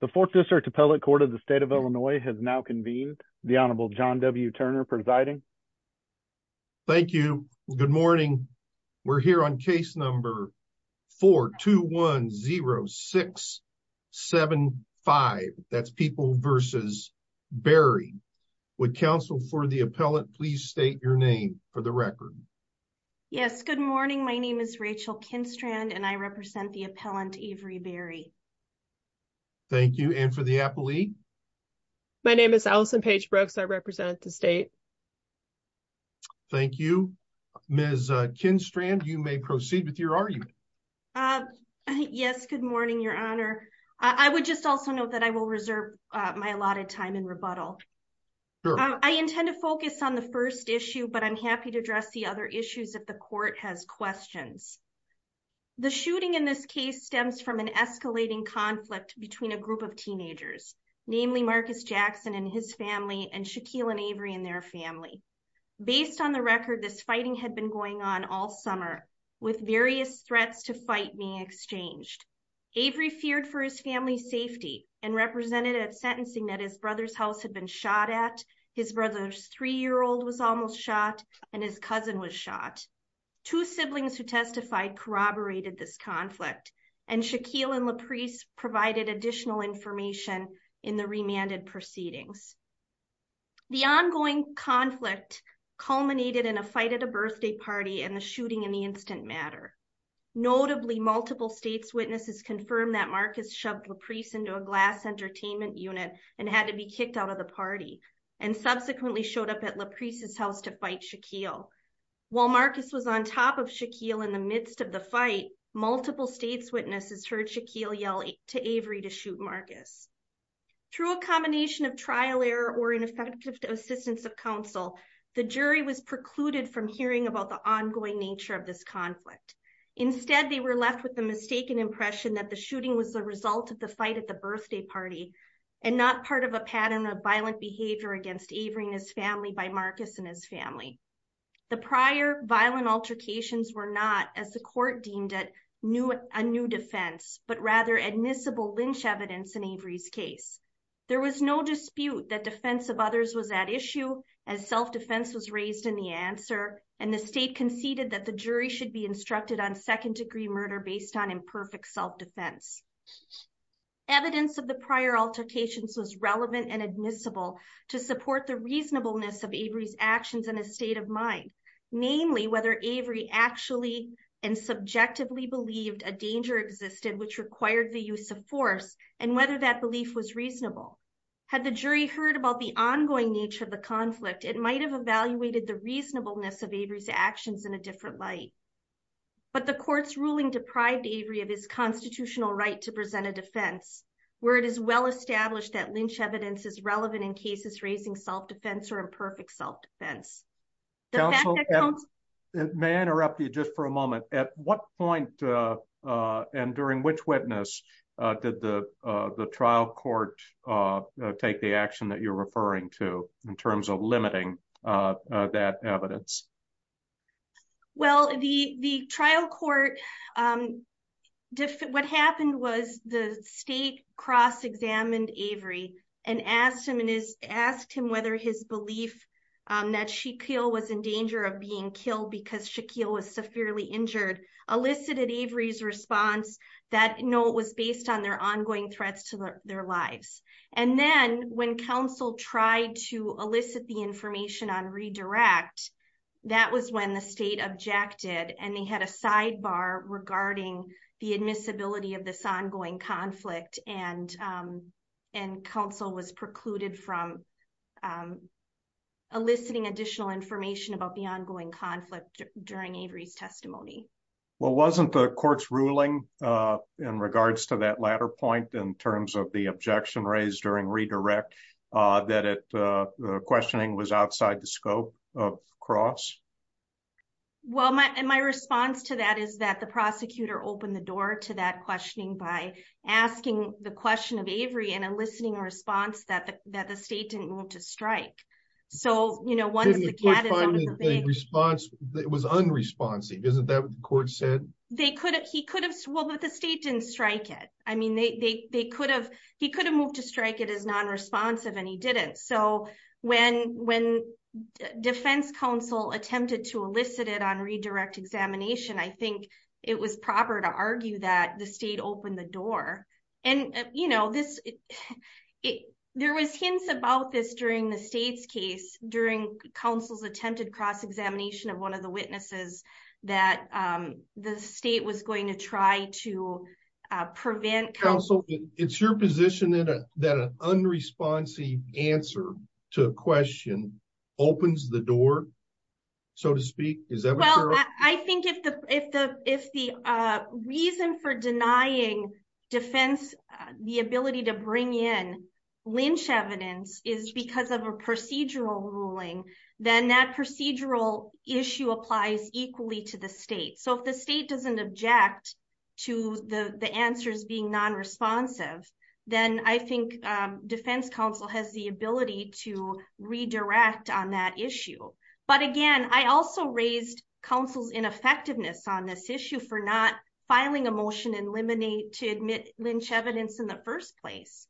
The Fourth District Appellate Court of the State of Illinois has now convened. The Honorable John W. Turner presiding. Thank you. Good morning. We're here on case number 4210675. That's people versus Berry. Would counsel for the appellant please state your name for the record? Yes. Good morning. Good morning. My name is Rachel Kinstrand and I represent the appellant Avery Berry. Thank you. And for the appellee? My name is Allison Paige Brooks. I represent the state. Thank you. Ms. Kinstrand, you may proceed with your argument. Yes. Good morning, Your Honor. I would just also note that I will reserve my allotted time in rebuttal. I intend to focus on the first issue, but I'm happy to address the other issues that the court has questions. The shooting in this case stems from an escalating conflict between a group of teenagers, namely Marcus Jackson and his family and Shaquille and Avery and their family. Based on the record, this fighting had been going on all summer with various threats to fight being exchanged. Avery feared for his family's safety and represented at sentencing that his brother's house had been shot at. His brother's three-year-old was almost shot and his cousin was shot. Two siblings who testified corroborated this conflict and Shaquille and LaPreece provided additional information in the remanded proceedings. The ongoing conflict culminated in a fight at a birthday party and the shooting in the instant matter. Notably, multiple state's witnesses confirmed that Marcus shoved LaPreece into a glass entertainment unit and had to be kicked out of the party and subsequently showed up at LaPreece's house to fight Shaquille. While Marcus was on top of Shaquille in the midst of the fight, multiple state's witnesses heard Shaquille yell to Avery to shoot Marcus. Through a combination of trial error or ineffective assistance of counsel, the jury was precluded from hearing about the ongoing nature of this conflict. Instead, they were left with the mistaken impression that the shooting was the result of the fight at the birthday party and not part of a pattern of violent behavior against Avery and his family by Marcus and his family. The prior violent altercations were not, as the court deemed it, a new defense, but rather admissible lynch evidence in Avery's case. There was no dispute that defense of others was at issue as self-defense was raised in the answer and the state conceded that the jury should be instructed on second-degree murder based on imperfect self-defense. Evidence of the prior altercations was relevant and admissible to support the reasonableness of Avery's actions and his state of mind, namely whether Avery actually and subjectively believed a danger existed which required the use of force and whether that belief was reasonable. Had the jury heard about the ongoing nature of the conflict, it might have evaluated the reasonableness of Avery's actions in a different light. But the court's ruling deprived Avery of his constitutional right to present a defense where it is well-established that lynch evidence is relevant in cases raising self-defense or imperfect self-defense. Counsel, may I interrupt you just for a moment? At what point and during which witness did the trial court take the action that you're referring to in terms of limiting that evidence? Well, the trial court, what happened was the state cross-examined Avery and asked him whether his belief that Shaquille was in danger of being killed because Shaquille was severely injured elicited Avery's response that, no, it was based on their ongoing threats to their lives. And then when counsel tried to elicit the information on redirect, that was when the state objected and they had a sidebar regarding the admissibility of this ongoing conflict and counsel was precluded from eliciting additional information about the ongoing conflict during Avery's testimony. Well, wasn't the court's ruling in regards to that latter point in terms of the objection raised during redirect that the questioning was outside the scope of cross? Well, and my response to that is that the prosecutor opened the door to that questioning by asking the question of Avery and eliciting a response that the state didn't move to strike. So, you know, once the cat is out of the bag. The response was unresponsive. Isn't that what the court said? They could have, he could have, well, but the state didn't strike it. I mean, they, they, they could have, he could have moved to strike it as non-responsive and he didn't. So when, when defense counsel attempted to elicit it on redirect examination, I think it was proper to argue that the state opened the door and, you know, this, it, there was hints about this during the state's case during counsel's attempted cross examination of one of the witnesses that the state was going to try to prevent counsel. It's your position in a, that an unresponsive answer to a question opens the door. So to speak, is that what I think if the, if the, if the reason for denying defense, the ability to bring in lynch evidence is because of a procedural ruling, then that applies equally to the state. So if the state doesn't object to the answers being non-responsive, then I think defense counsel has the ability to redirect on that issue. But again, I also raised counsel's ineffectiveness on this issue for not filing a motion and eliminate to admit lynch evidence in the first place.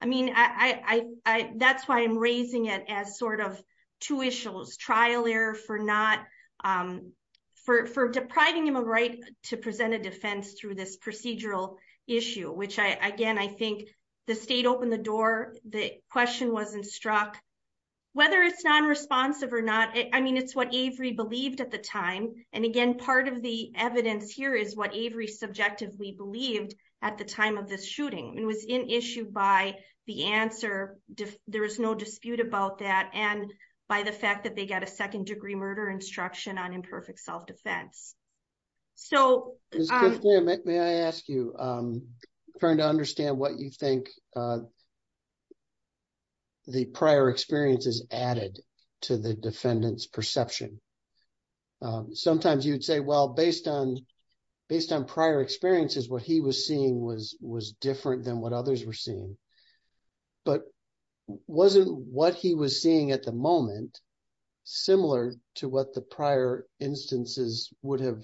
I mean, I, I, I, that's why I'm raising it as sort of two issues, trial error for not for, for depriving him of right to present a defense through this procedural issue, which I, again, I think the state opened the door. The question wasn't struck whether it's non-responsive or not. I mean, it's what Avery believed at the time. And again, part of the evidence here is what Avery subjectively believed at the time of this shooting and was in issued by the answer. There was no dispute about that. And by the fact that they got a second degree murder instruction on imperfect self-defense. So, may I ask you, I'm trying to understand what you think the prior experiences added to the defendant's perception. Sometimes you'd say, well, based on, based on prior experiences, what he was seeing was, was different than what others were seeing, but wasn't what he was seeing at the moment, similar to what the prior instances would have,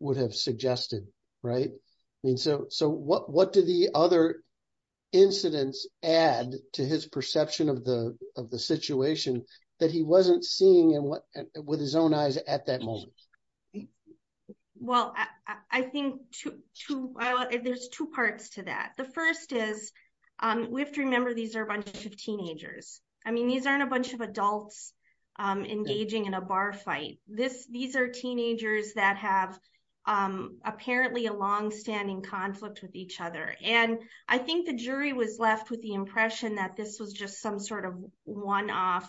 would have suggested. Right. I mean, so, so what, what did the other incidents add to his perception of the, of the situation that he wasn't seeing and what, with his own eyes at that moment? Well, I think two, two, there's two parts to that. The first is we have to remember these are a bunch of teenagers. I mean, these aren't a bunch of adults engaging in a bar fight. This, these are teenagers that have apparently a longstanding conflict with each other. And I think the jury was left with the impression that this was just some sort of one-off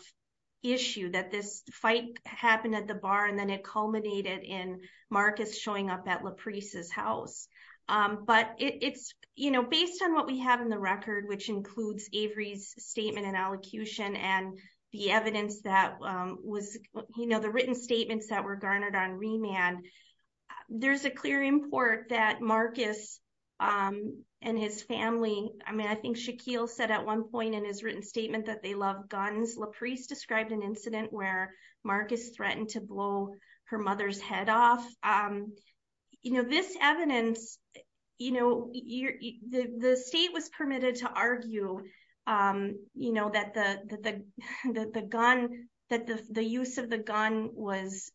issue that this fight happened at the bar. And then it culminated in Marcus showing up at LaPreece's house. But it's, you know, based on what we have in the record, which includes Avery's statement and allocution and the evidence that was, you know, the written statements that were garnered on remand, there's a clear import that Marcus and his family, I mean, I think Shaquille said at one point in his written statement that they love guns. LaPreece described an incident where Marcus threatened to blow her mother's head off. You know, this evidence, you know, the state was permitted to argue, you know, that the gun, that the use of the gun was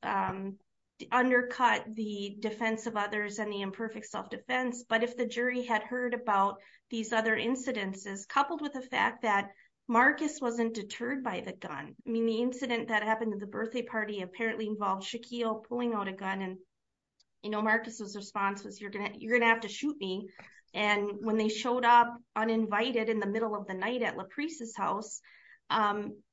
undercut the defense of others and the imperfect self-defense. But if the jury had heard about these other incidences, coupled with the fact that Marcus wasn't deterred by the gun, I mean, the incident that happened at the birthday party apparently involved Shaquille pulling out a gun. And, you know, Marcus's response was, you're going to have to shoot me. And when they showed up uninvited in the middle of the night at LaPreece's house,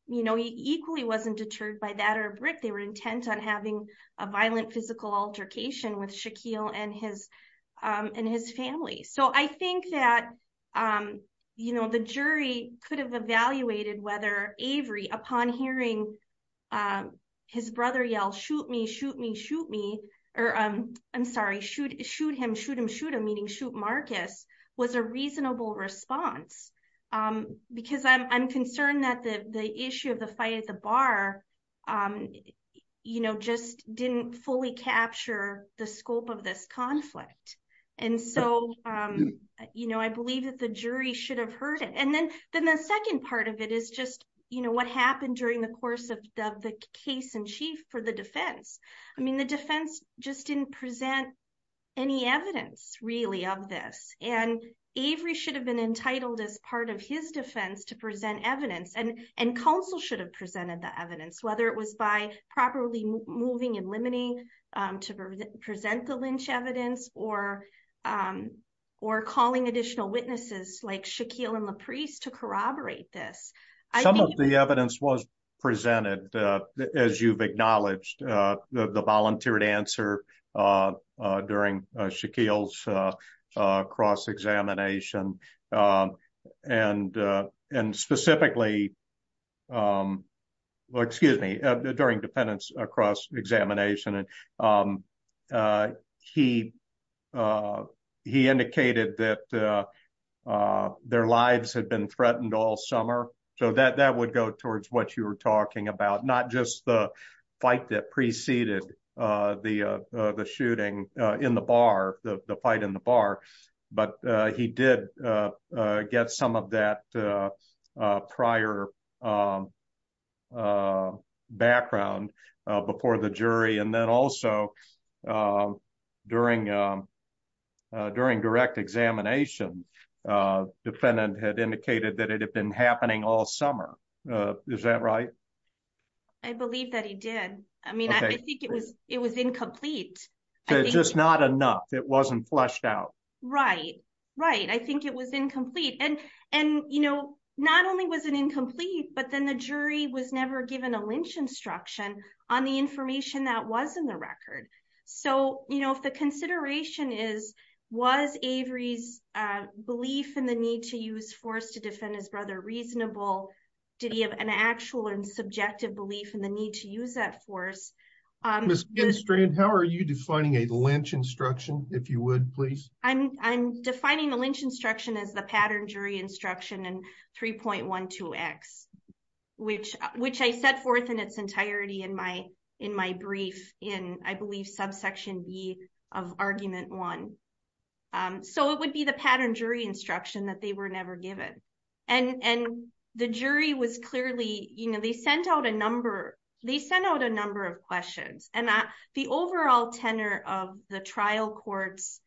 you know, equally wasn't deterred by that or a brick. They were intent on having a violent physical altercation with Shaquille and his family. So I think that, you know, the jury could have evaluated whether Avery, upon hearing his brother yell, shoot me, shoot me, shoot me, or I'm sorry, shoot him, shoot him, shoot him, meaning shoot Marcus, was a reasonable response. Because I'm concerned that the issue of the fight at the bar, you know, just didn't fully capture the scope of this conflict. And so, you know, I believe that the jury should have heard it. And then the second part of it is just, you know, what happened during the course of the case in chief for the defense. I mean, the defense just didn't present any evidence really of this. And Avery should have been entitled as part of his defense to present evidence. And counsel should have presented the evidence, whether it was by properly moving and limiting to present the lynch evidence or calling additional witnesses like Shaquille and LaPreece to corroborate this. Some of the evidence was presented, as you've acknowledged, the volunteered answer during Shaquille's cross-examination and specifically, excuse me, during defendant's cross-examination and he indicated that their lives had been threatened all summer. So that would go towards what you were talking about. Not just the fight that preceded the shooting in the bar, the fight in the bar, but he did get some of that prior background before the jury. And then also during direct examination, defendant had indicated that it had been happening all summer. Is that right? I believe that he did. I mean, I think it was incomplete. Just not enough. It wasn't fleshed out. Right, right. I think it was incomplete. And, you know, not only was it incomplete, but then the jury was never given a lynch instruction on the information that was in the record. So, you know, if the consideration is, was Avery's belief in the need to use force to defend his brother reasonable? Did he have an actual and subjective belief in the need to use that force? Ms. Ginstrand, how are you defining a lynch instruction, if you would, please? I'm defining the lynch instruction as the pattern jury instruction in 3.12x, which I set forth in its entirety in my brief in, I believe, subsection B of argument one. So it would be the pattern jury instruction that they were never given. And the jury was clearly, you know, they sent out a number, they sent out a number of questions. And the overall tenor of the trial court's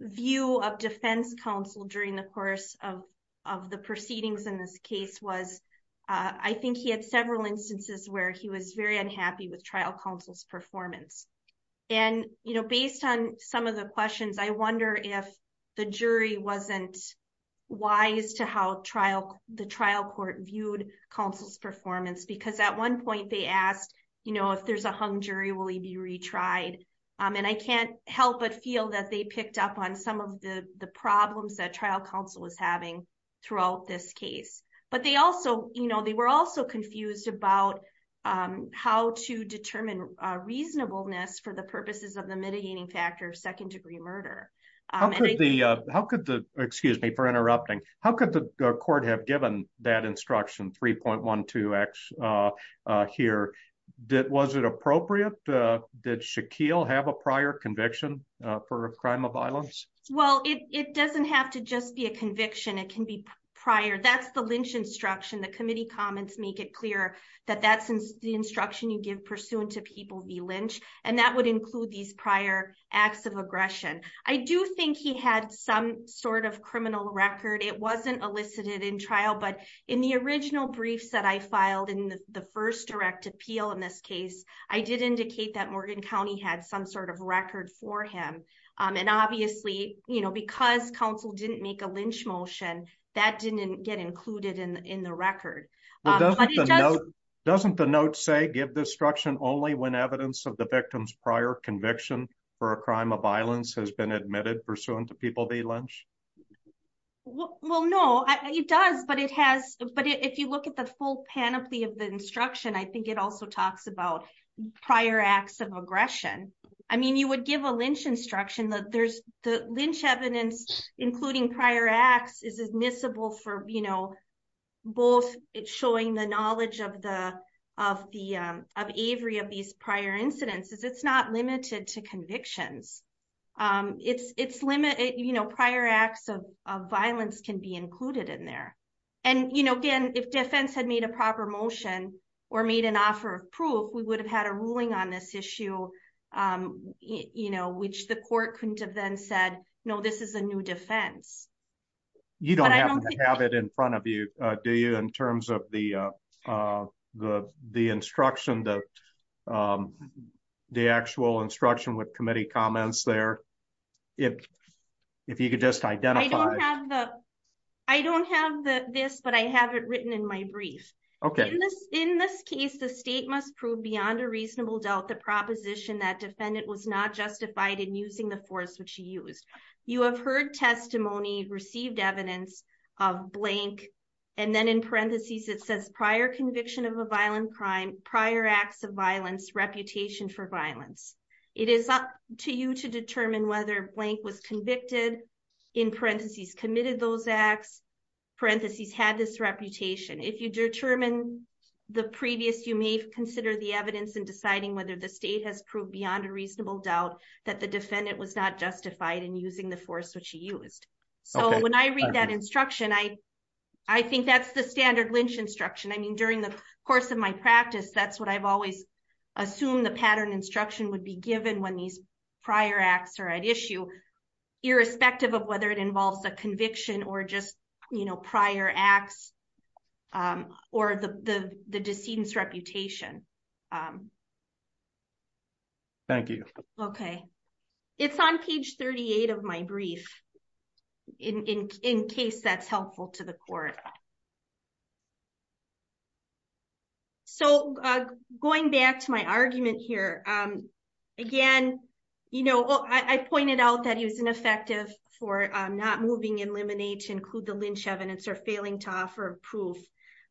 view of defense counsel during the course of the proceedings in this case was, I think he had several instances where he was very unhappy with trial counsel's performance. And, you know, based on some of the questions, I wonder if the jury wasn't wise to how the trial court viewed counsel's performance. Because at one point they asked, you know, if there's a hung jury, will he be retried? And I can't help but feel that they picked up on some of the problems that trial counsel was having throughout this case. But they also, you know, they were also confused about how to determine reasonableness for the purposes of the mitigating factor of second degree murder. How could the, excuse me for interrupting, how could the court have given that instruction 3.12x here? Was it appropriate? Well, it doesn't have to just be a conviction. It can be prior. That's the Lynch instruction. The committee comments make it clear that that's the instruction you give pursuant to people v. Lynch. And that would include these prior acts of aggression. I do think he had some sort of criminal record. It wasn't elicited in trial. But in the original briefs that I filed in the first direct appeal in this case, I did indicate that Morgan County had some sort of record for him. And obviously, you know, because counsel didn't make a Lynch motion, that didn't get included in the record. Doesn't the note say give this instruction only when evidence of the victim's prior conviction for a crime of violence has been admitted pursuant to people v. Lynch? Well, no, it does. But it has. But if you look at the full panoply of the instruction, I think it also talks about prior acts of aggression. I mean, you would give a Lynch instruction that there's the Lynch evidence, including prior acts is admissible for, you know, both showing the knowledge of the of the of Avery of these prior incidents is it's not limited to convictions. It's it's limit, you know, prior acts of violence can be included in there. And, you know, again, if defense had made a proper motion or made an offer of proof, we would have had a ruling on this issue, you know, which the court couldn't have then said, no, this is a new defense. You don't have it in front of you, do you? In terms of the the the instruction, the the actual instruction with committee comments there, if if you could just identify I don't have the I don't have this, but I have it written in my brief. OK, in this case, the state must prove beyond a reasonable doubt the proposition that defendant was not justified in using the force which he used. You have heard testimony received evidence of blank. And then in parentheses, it says prior conviction of a violent crime, prior acts of violence, reputation for violence. It is up to you to determine whether blank was convicted in parentheses, committed those acts, parentheses, had this reputation. If you determine the previous, you may consider the evidence in deciding whether the state has proved beyond a reasonable doubt that the defendant was not justified in using the force which he used. So when I read that instruction, I I think that's the standard lynch instruction. I mean, during the course of my practice, that's what I've always assumed. The pattern instruction would be given when these prior acts are at issue, irrespective of whether it involves a conviction or just prior acts or the decedent's reputation. Thank you. OK, it's on page 38 of my brief in case that's helpful to the court. So going back to my argument here again, you know, I pointed out that he was ineffective for not moving in limine to include the lynch evidence or failing to offer proof.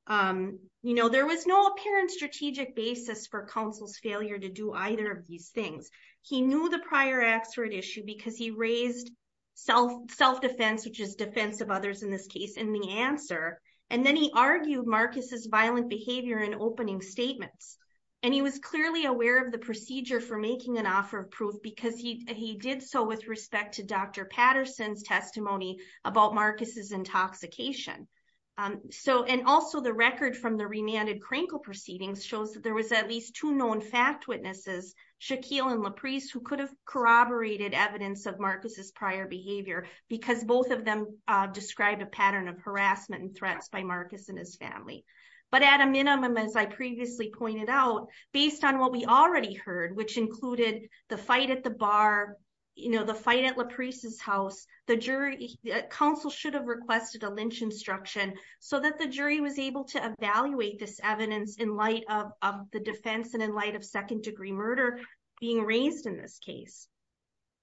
You know, there was no apparent strategic basis for counsel's failure to do either of these things. He knew the prior acts were at issue because he raised self self-defense, which is defense of others in this case in the answer. And then he argued Marcus's violent behavior in opening statements. And he was clearly aware of the procedure for making an offer of proof because he he did so with respect to Dr. Patterson's testimony about Marcus's intoxication. So and also the record from the remanded Krankel proceedings shows that there was at least two known fact witnesses, Shaquille and LaPreece, who could have corroborated evidence of Marcus's prior behavior because both of them described a pattern of harassment and threats by Marcus and his family. But at a minimum, as I previously pointed out, based on what we already heard, which you know, the fight at LaPreece's house, the jury counsel should have requested a lynch instruction so that the jury was able to evaluate this evidence in light of the defense and in light of second degree murder being raised in this case.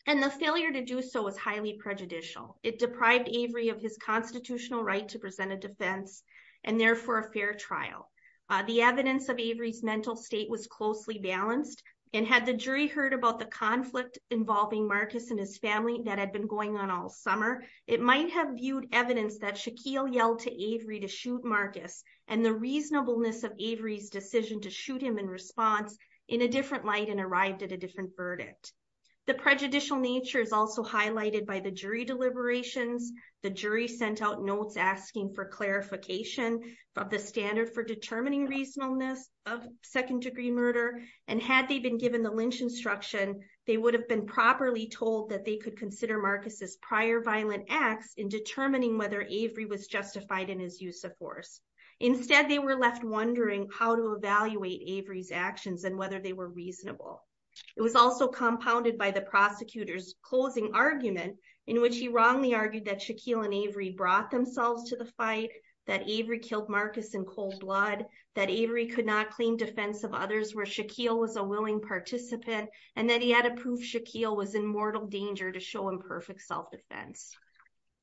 And the failure to do so was highly prejudicial. It deprived Avery of his constitutional right to present a defense and therefore a fair trial. The evidence of Avery's mental state was closely balanced and had the jury heard about the Marcus and his family that had been going on all summer. It might have viewed evidence that Shaquille yelled to Avery to shoot Marcus and the reasonableness of Avery's decision to shoot him in response in a different light and arrived at a different verdict. The prejudicial nature is also highlighted by the jury deliberations. The jury sent out notes asking for clarification of the standard for determining reasonableness of second degree murder. And had they been given the lynch instruction, they would have been properly told that they could consider Marcus's prior violent acts in determining whether Avery was justified in his use of force. Instead, they were left wondering how to evaluate Avery's actions and whether they were reasonable. It was also compounded by the prosecutor's closing argument in which he wrongly argued that Shaquille and Avery brought themselves to the fight, that Avery killed Marcus in was a willing participant, and that he had to prove Shaquille was in mortal danger to show imperfect self-defense.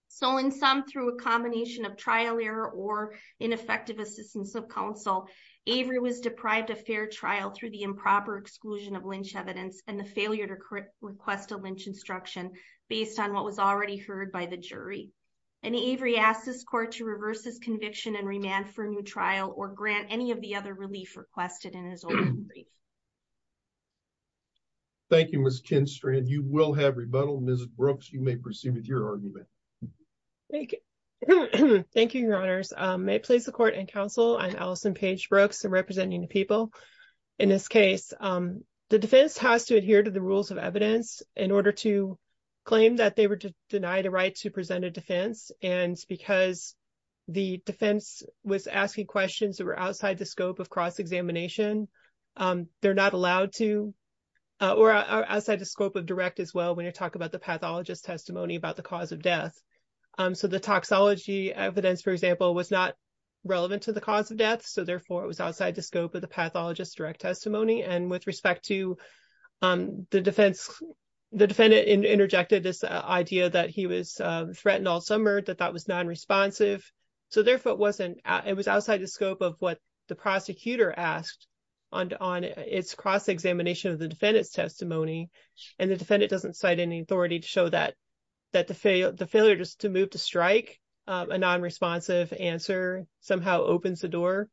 So in sum, through a combination of trial error or ineffective assistance of counsel, Avery was deprived of fair trial through the improper exclusion of lynch evidence and the failure to request a lynch instruction based on what was already heard by the jury. And Avery asked this court to reverse his conviction and remand for a new trial or grant any of the other relief requested in his oral brief. Thank you, Ms. Kinstrand. You will have rebuttal. Ms. Brooks, you may proceed with your argument. Thank you, Your Honors. May it please the court and counsel, I'm Allison Page Brooks. I'm representing the people in this case. The defense has to adhere to the rules of evidence in order to claim that they were to deny the right to present a defense. And because the defense was asking questions that were outside the scope of cross-examination, they're not allowed to, or outside the scope of direct as well when you talk about the pathologist's testimony about the cause of death. So the toxology evidence, for example, was not relevant to the cause of death, so therefore it was outside the scope of the pathologist's direct testimony. And with respect to the defense, the defendant interjected this idea that he was threatened all summer, that that was non-responsive, so therefore it was outside the scope of what the prosecutor asked on its cross-examination of the defendant's testimony, and the defendant doesn't cite any authority to show that the failure to move to strike a non-responsive answer somehow opens the door.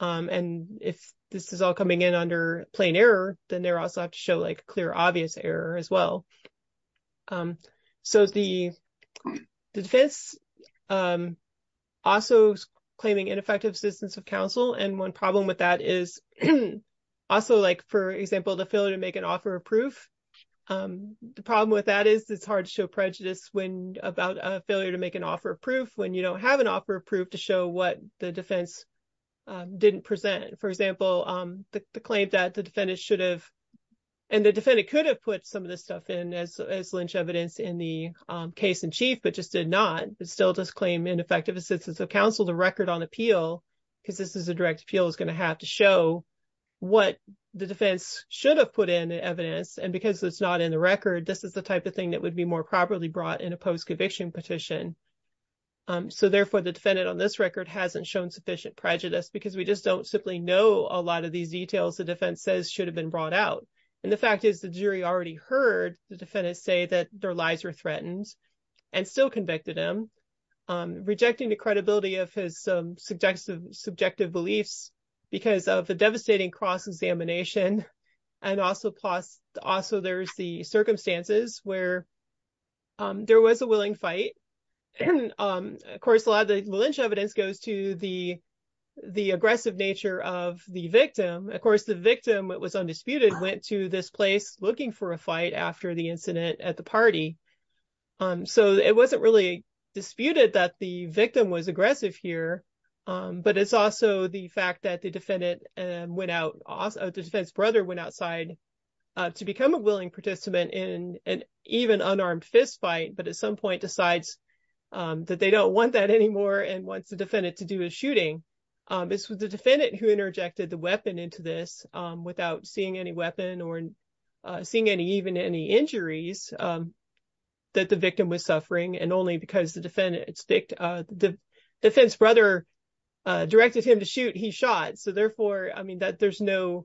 And if this is all coming in under plain error, then they also have to show clear, obvious error as well. So the defense also is claiming ineffective assistance of counsel, and one problem with that is also, for example, the failure to make an offer of proof. The problem with that is it's hard to show prejudice about a failure to make an offer of proof when you don't have an offer of proof to show what the defense didn't present. For example, the claim that the defendant should have, and the defendant could have put some of this stuff in as lynch evidence in the case in chief, but just did not, still does claim ineffective assistance of counsel. The record on appeal, because this is a direct appeal, is going to have to show what the defense should have put in evidence, and because it's not in the record, this is the type of thing that would be more properly brought in a post-conviction petition. So therefore, the defendant on this record hasn't shown sufficient prejudice because we just don't simply know a lot of these details the defense says should have been brought out, and the fact is the jury already heard the defendant say that their lies were threatened and still convicted him, rejecting the credibility of his subjective beliefs because of the devastating cross-examination, and also there's the circumstances where there was a willing fight, and of course, a lot of the lynch evidence goes to the aggressive victim, it was undisputed, went to this place looking for a fight after the incident at the party, so it wasn't really disputed that the victim was aggressive here, but it's also the fact that the defendant went out, the defense brother went outside to become a willing participant in an even unarmed fistfight, but at some point decides that they don't want that anymore and wants the defendant to do a shooting. It's the defendant who interjected the weapon into this without seeing any weapon or seeing even any injuries that the victim was suffering, and only because the defense brother directed him to shoot, he shot, so therefore, I mean, there's no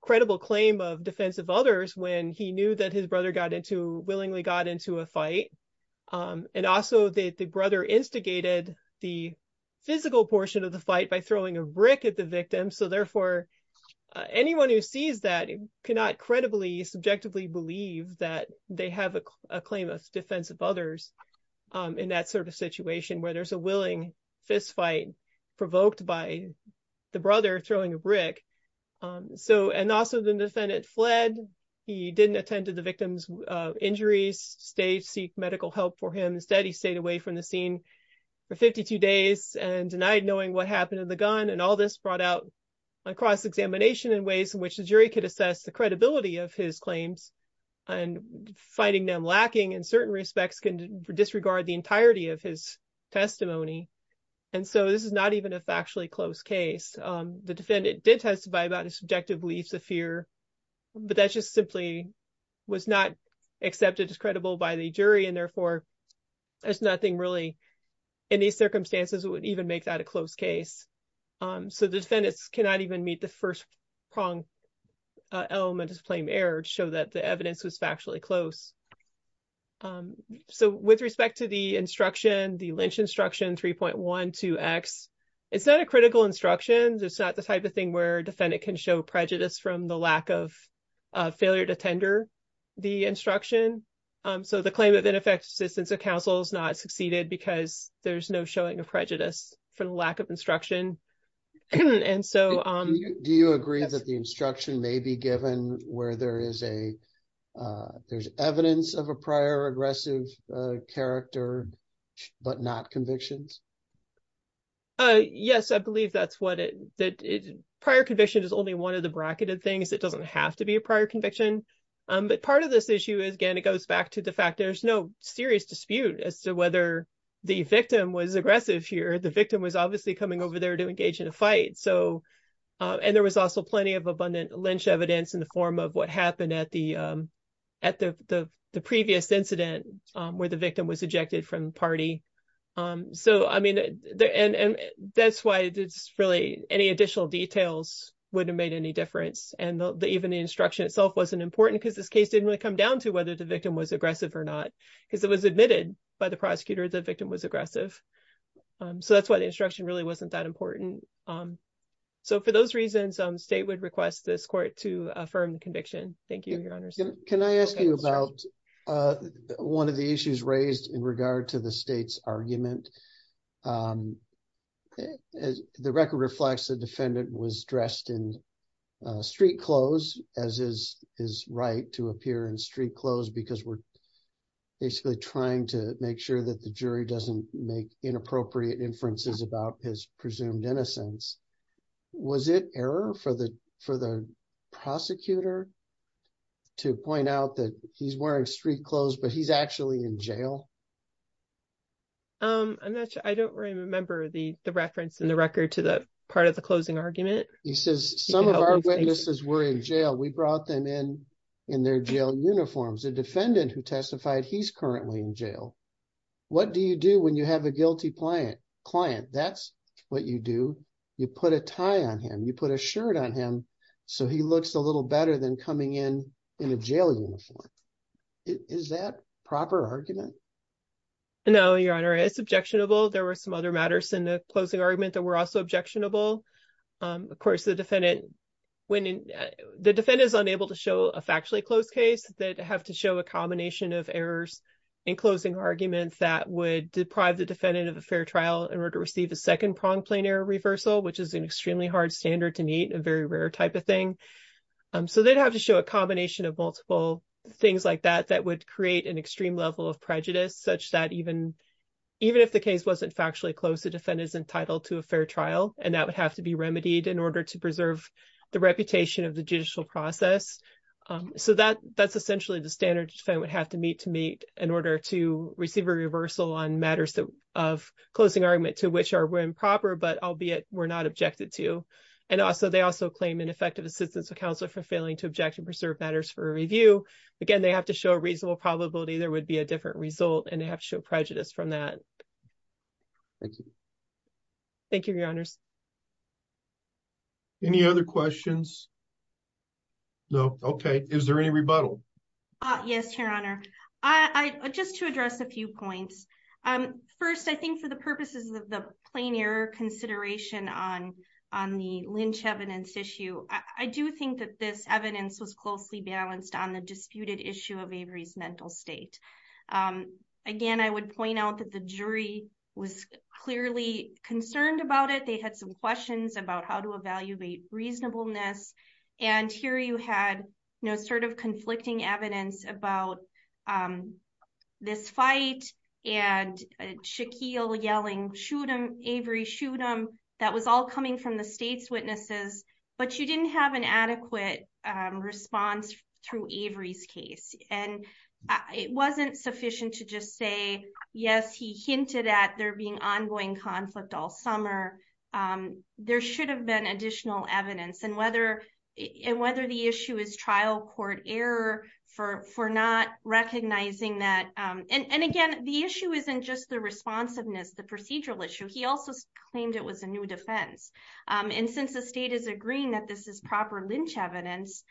credible claim of defensive others when he knew that his brother willingly got into a fight, and also the brother instigated the physical portion of the fight by throwing a brick at the victim, so therefore, anyone who sees that cannot credibly, subjectively believe that they have a claim of defensive others in that sort of situation where there's a willing fistfight provoked by the brother throwing a brick, and also the defendant fled, he didn't attend to injuries, stayed to seek medical help for him, instead, he stayed away from the scene for 52 days and denied knowing what happened to the gun, and all this brought out a cross-examination in ways in which the jury could assess the credibility of his claims, and finding them lacking in certain respects can disregard the entirety of his testimony, and so this is not even a factually close case. The defendant did testify about his subjective beliefs of fear, but that just simply was not accepted as credible by the jury, and therefore, there's nothing really, in these circumstances, that would even make that a close case, so the defendants cannot even meet the first prong element of the claim error to show that the evidence was factually close. So, with respect to the instruction, the Lynch instruction 3.12x, it's not a critical instruction, it's not the type of thing where there's no prejudice from the lack of failure to tender the instruction, so the claim of ineffective assistance of counsel is not succeeded because there's no showing of prejudice for the lack of instruction, and so... Do you agree that the instruction may be given where there's evidence of a prior aggressive character, but not convictions? Yes, I believe that's what it is. Prior conviction is only one of the bracketed things. It doesn't have to be a prior conviction, but part of this issue is, again, it goes back to the fact there's no serious dispute as to whether the victim was aggressive here. The victim was obviously coming over there to engage in a fight, and there was also plenty of abundant Lynch evidence in the form of what happened at the previous incident where the victim was ejected from the party. So, I mean, and that's why it's really any additional details wouldn't have made any difference, and even the instruction itself wasn't important because this case didn't really come down to whether the victim was aggressive or not because it was admitted by the prosecutor the victim was aggressive, so that's why the instruction really wasn't that important. So, for those reasons, the state would request this court to affirm the conviction. Thank you. The record reflects the defendant was dressed in street clothes as his right to appear in street clothes because we're basically trying to make sure that the jury doesn't make inappropriate inferences about his presumed innocence. Was it error for the prosecutor to point out that he's in street clothes, but he's actually in jail? I'm not sure. I don't remember the reference in the record to the part of the closing argument. He says some of our witnesses were in jail. We brought them in in their jail uniforms. A defendant who testified he's currently in jail. What do you do when you have a guilty client? That's what you do. You put a tie on him. You is that proper argument? No, your honor. It's objectionable. There were some other matters in the closing argument that were also objectionable. Of course, the defendant when the defendant is unable to show a factually closed case that have to show a combination of errors in closing arguments that would deprive the defendant of a fair trial in order to receive a second prong plane error reversal, which is an extremely hard standard to meet a very rare type thing. So they'd have to show a combination of multiple things like that that would create an extreme level of prejudice such that even if the case wasn't factually closed, the defendant is entitled to a fair trial and that would have to be remedied in order to preserve the reputation of the judicial process. So that's essentially the standard the defendant would have to meet to meet in order to receive a reversal on matters of closing argument to which are improper, but were not objected to. And also they also claim ineffective assistance of counsel for failing to object and preserve matters for review. Again, they have to show a reasonable probability there would be a different result and they have to show prejudice from that. Thank you. Thank you, your honors. Any other questions? No. Okay. Is there any rebuttal? Yes, your honor. I just to on on the lynch evidence issue. I do think that this evidence was closely balanced on the disputed issue of Avery's mental state. Again, I would point out that the jury was clearly concerned about it. They had some questions about how to evaluate reasonableness. And here you had no sort conflicting evidence about this fight and Shaquille yelling shoot him Avery shoot him. That was all coming from the state's witnesses. But you didn't have an adequate response through Avery's case. And it wasn't sufficient to just say, yes, he hinted at there being ongoing conflict all for for not recognizing that. And again, the issue isn't just the responsiveness, the procedural issue, he also claimed it was a new defense. And since the state is agreeing that this is proper lynch evidence,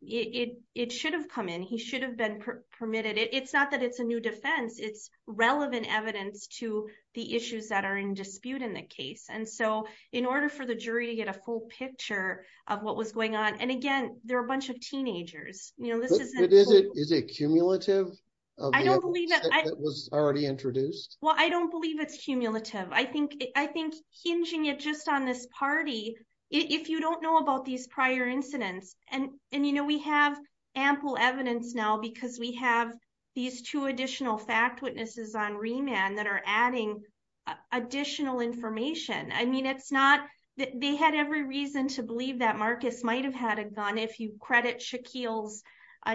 it should have come in, he should have been permitted. It's not that it's a new defense, it's relevant evidence to the issues that are in dispute in the case. And so in order for the jury to get a full picture of what was going on, and again, there are a bunch of teenagers, you know, this is it is a cumulative. I don't believe that was already introduced. Well, I don't believe it's cumulative. I think I think hinging it just on this party, if you don't know about these prior incidents, and and you know, we have ample evidence now, because we have these two additional fact witnesses on remand that are adding additional information. I mean, it's not that they had every reason to believe that Marcus might have had a gun if you credit Shaquille's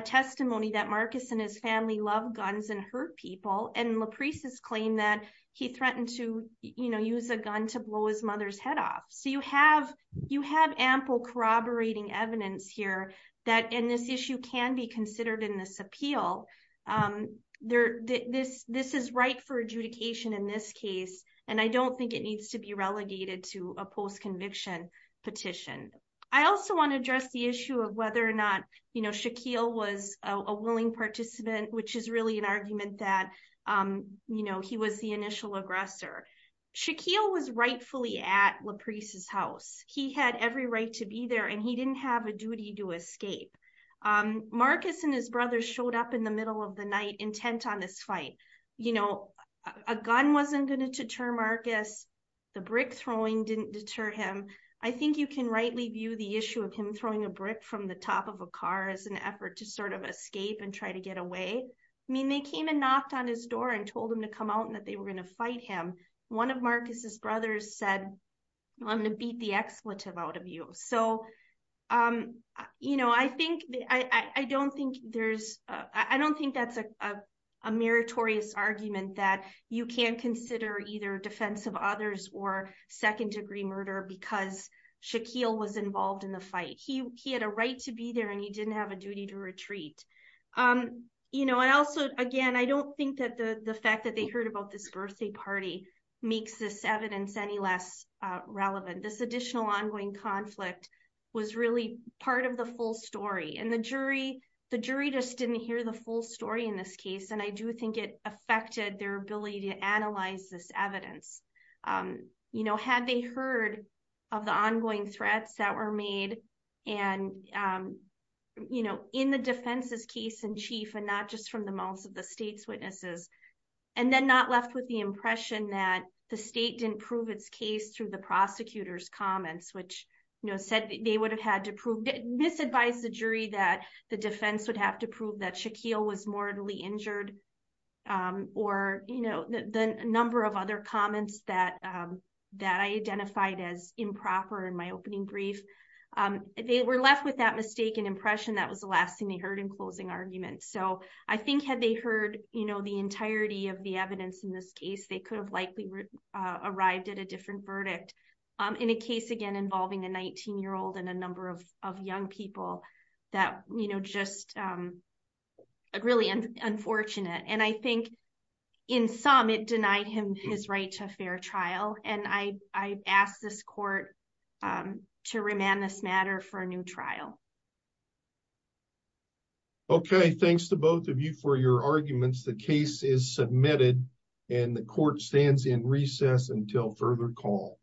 testimony that Marcus and his family love guns and hurt people. And LaPreece's claim that he threatened to, you know, use a gun to blow his mother's head off. So you have, you have ample corroborating evidence here, that in this issue can be considered in this appeal. There, this, this is right for adjudication in this case. And I don't think it needs to be whether or not, you know, Shaquille was a willing participant, which is really an argument that, you know, he was the initial aggressor. Shaquille was rightfully at LaPreece's house, he had every right to be there, and he didn't have a duty to escape. Marcus and his brother showed up in the middle of the night intent on this fight. You know, a gun wasn't going to deter Marcus, the brick throwing didn't deter him. I think you can rightly view the issue of him throwing a brick from the top of a car as an effort to sort of escape and try to get away. I mean, they came and knocked on his door and told him to come out and that they were going to fight him. One of Marcus's brothers said, I'm gonna beat the expletive out of you. So, you know, I think, I don't think there's, I don't think that's a meritorious argument that you can't consider either defense of others or second degree murder because Shaquille was involved in the fight. He had a right to be there and he didn't have a duty to retreat. You know, and also, again, I don't think that the fact that they heard about this birthday party makes this evidence any less relevant. This additional ongoing conflict was really part of the full story and the jury, the jury just didn't hear the full story in this case, and I do think it affected their ability to analyze this evidence. You know, had they heard of the ongoing threats that were made and, you know, in the defense's case in chief and not just from the mouths of the state's witnesses, and then not left with the impression that the state didn't prove its case through the prosecutor's comments, which, you know, said they would have had to prove, misadvised the jury that the defense would have to prove that Shaquille was mortally injured, or, you know, the number of other comments that I identified as improper in my opening brief, they were left with that mistaken impression that was the last thing they heard in closing argument. So, I think had they heard, you know, the entirety of the evidence in this case, they could have likely arrived at a different verdict in a case, again, involving a 19 year old and a number of young people that, you know, just really unfortunate, and I think in some it denied him his right to a fair trial, and I ask this court to remand this matter for a new trial. Okay, thanks to both of you for your arguments. The case is submitted, and the court stands in recess until further call.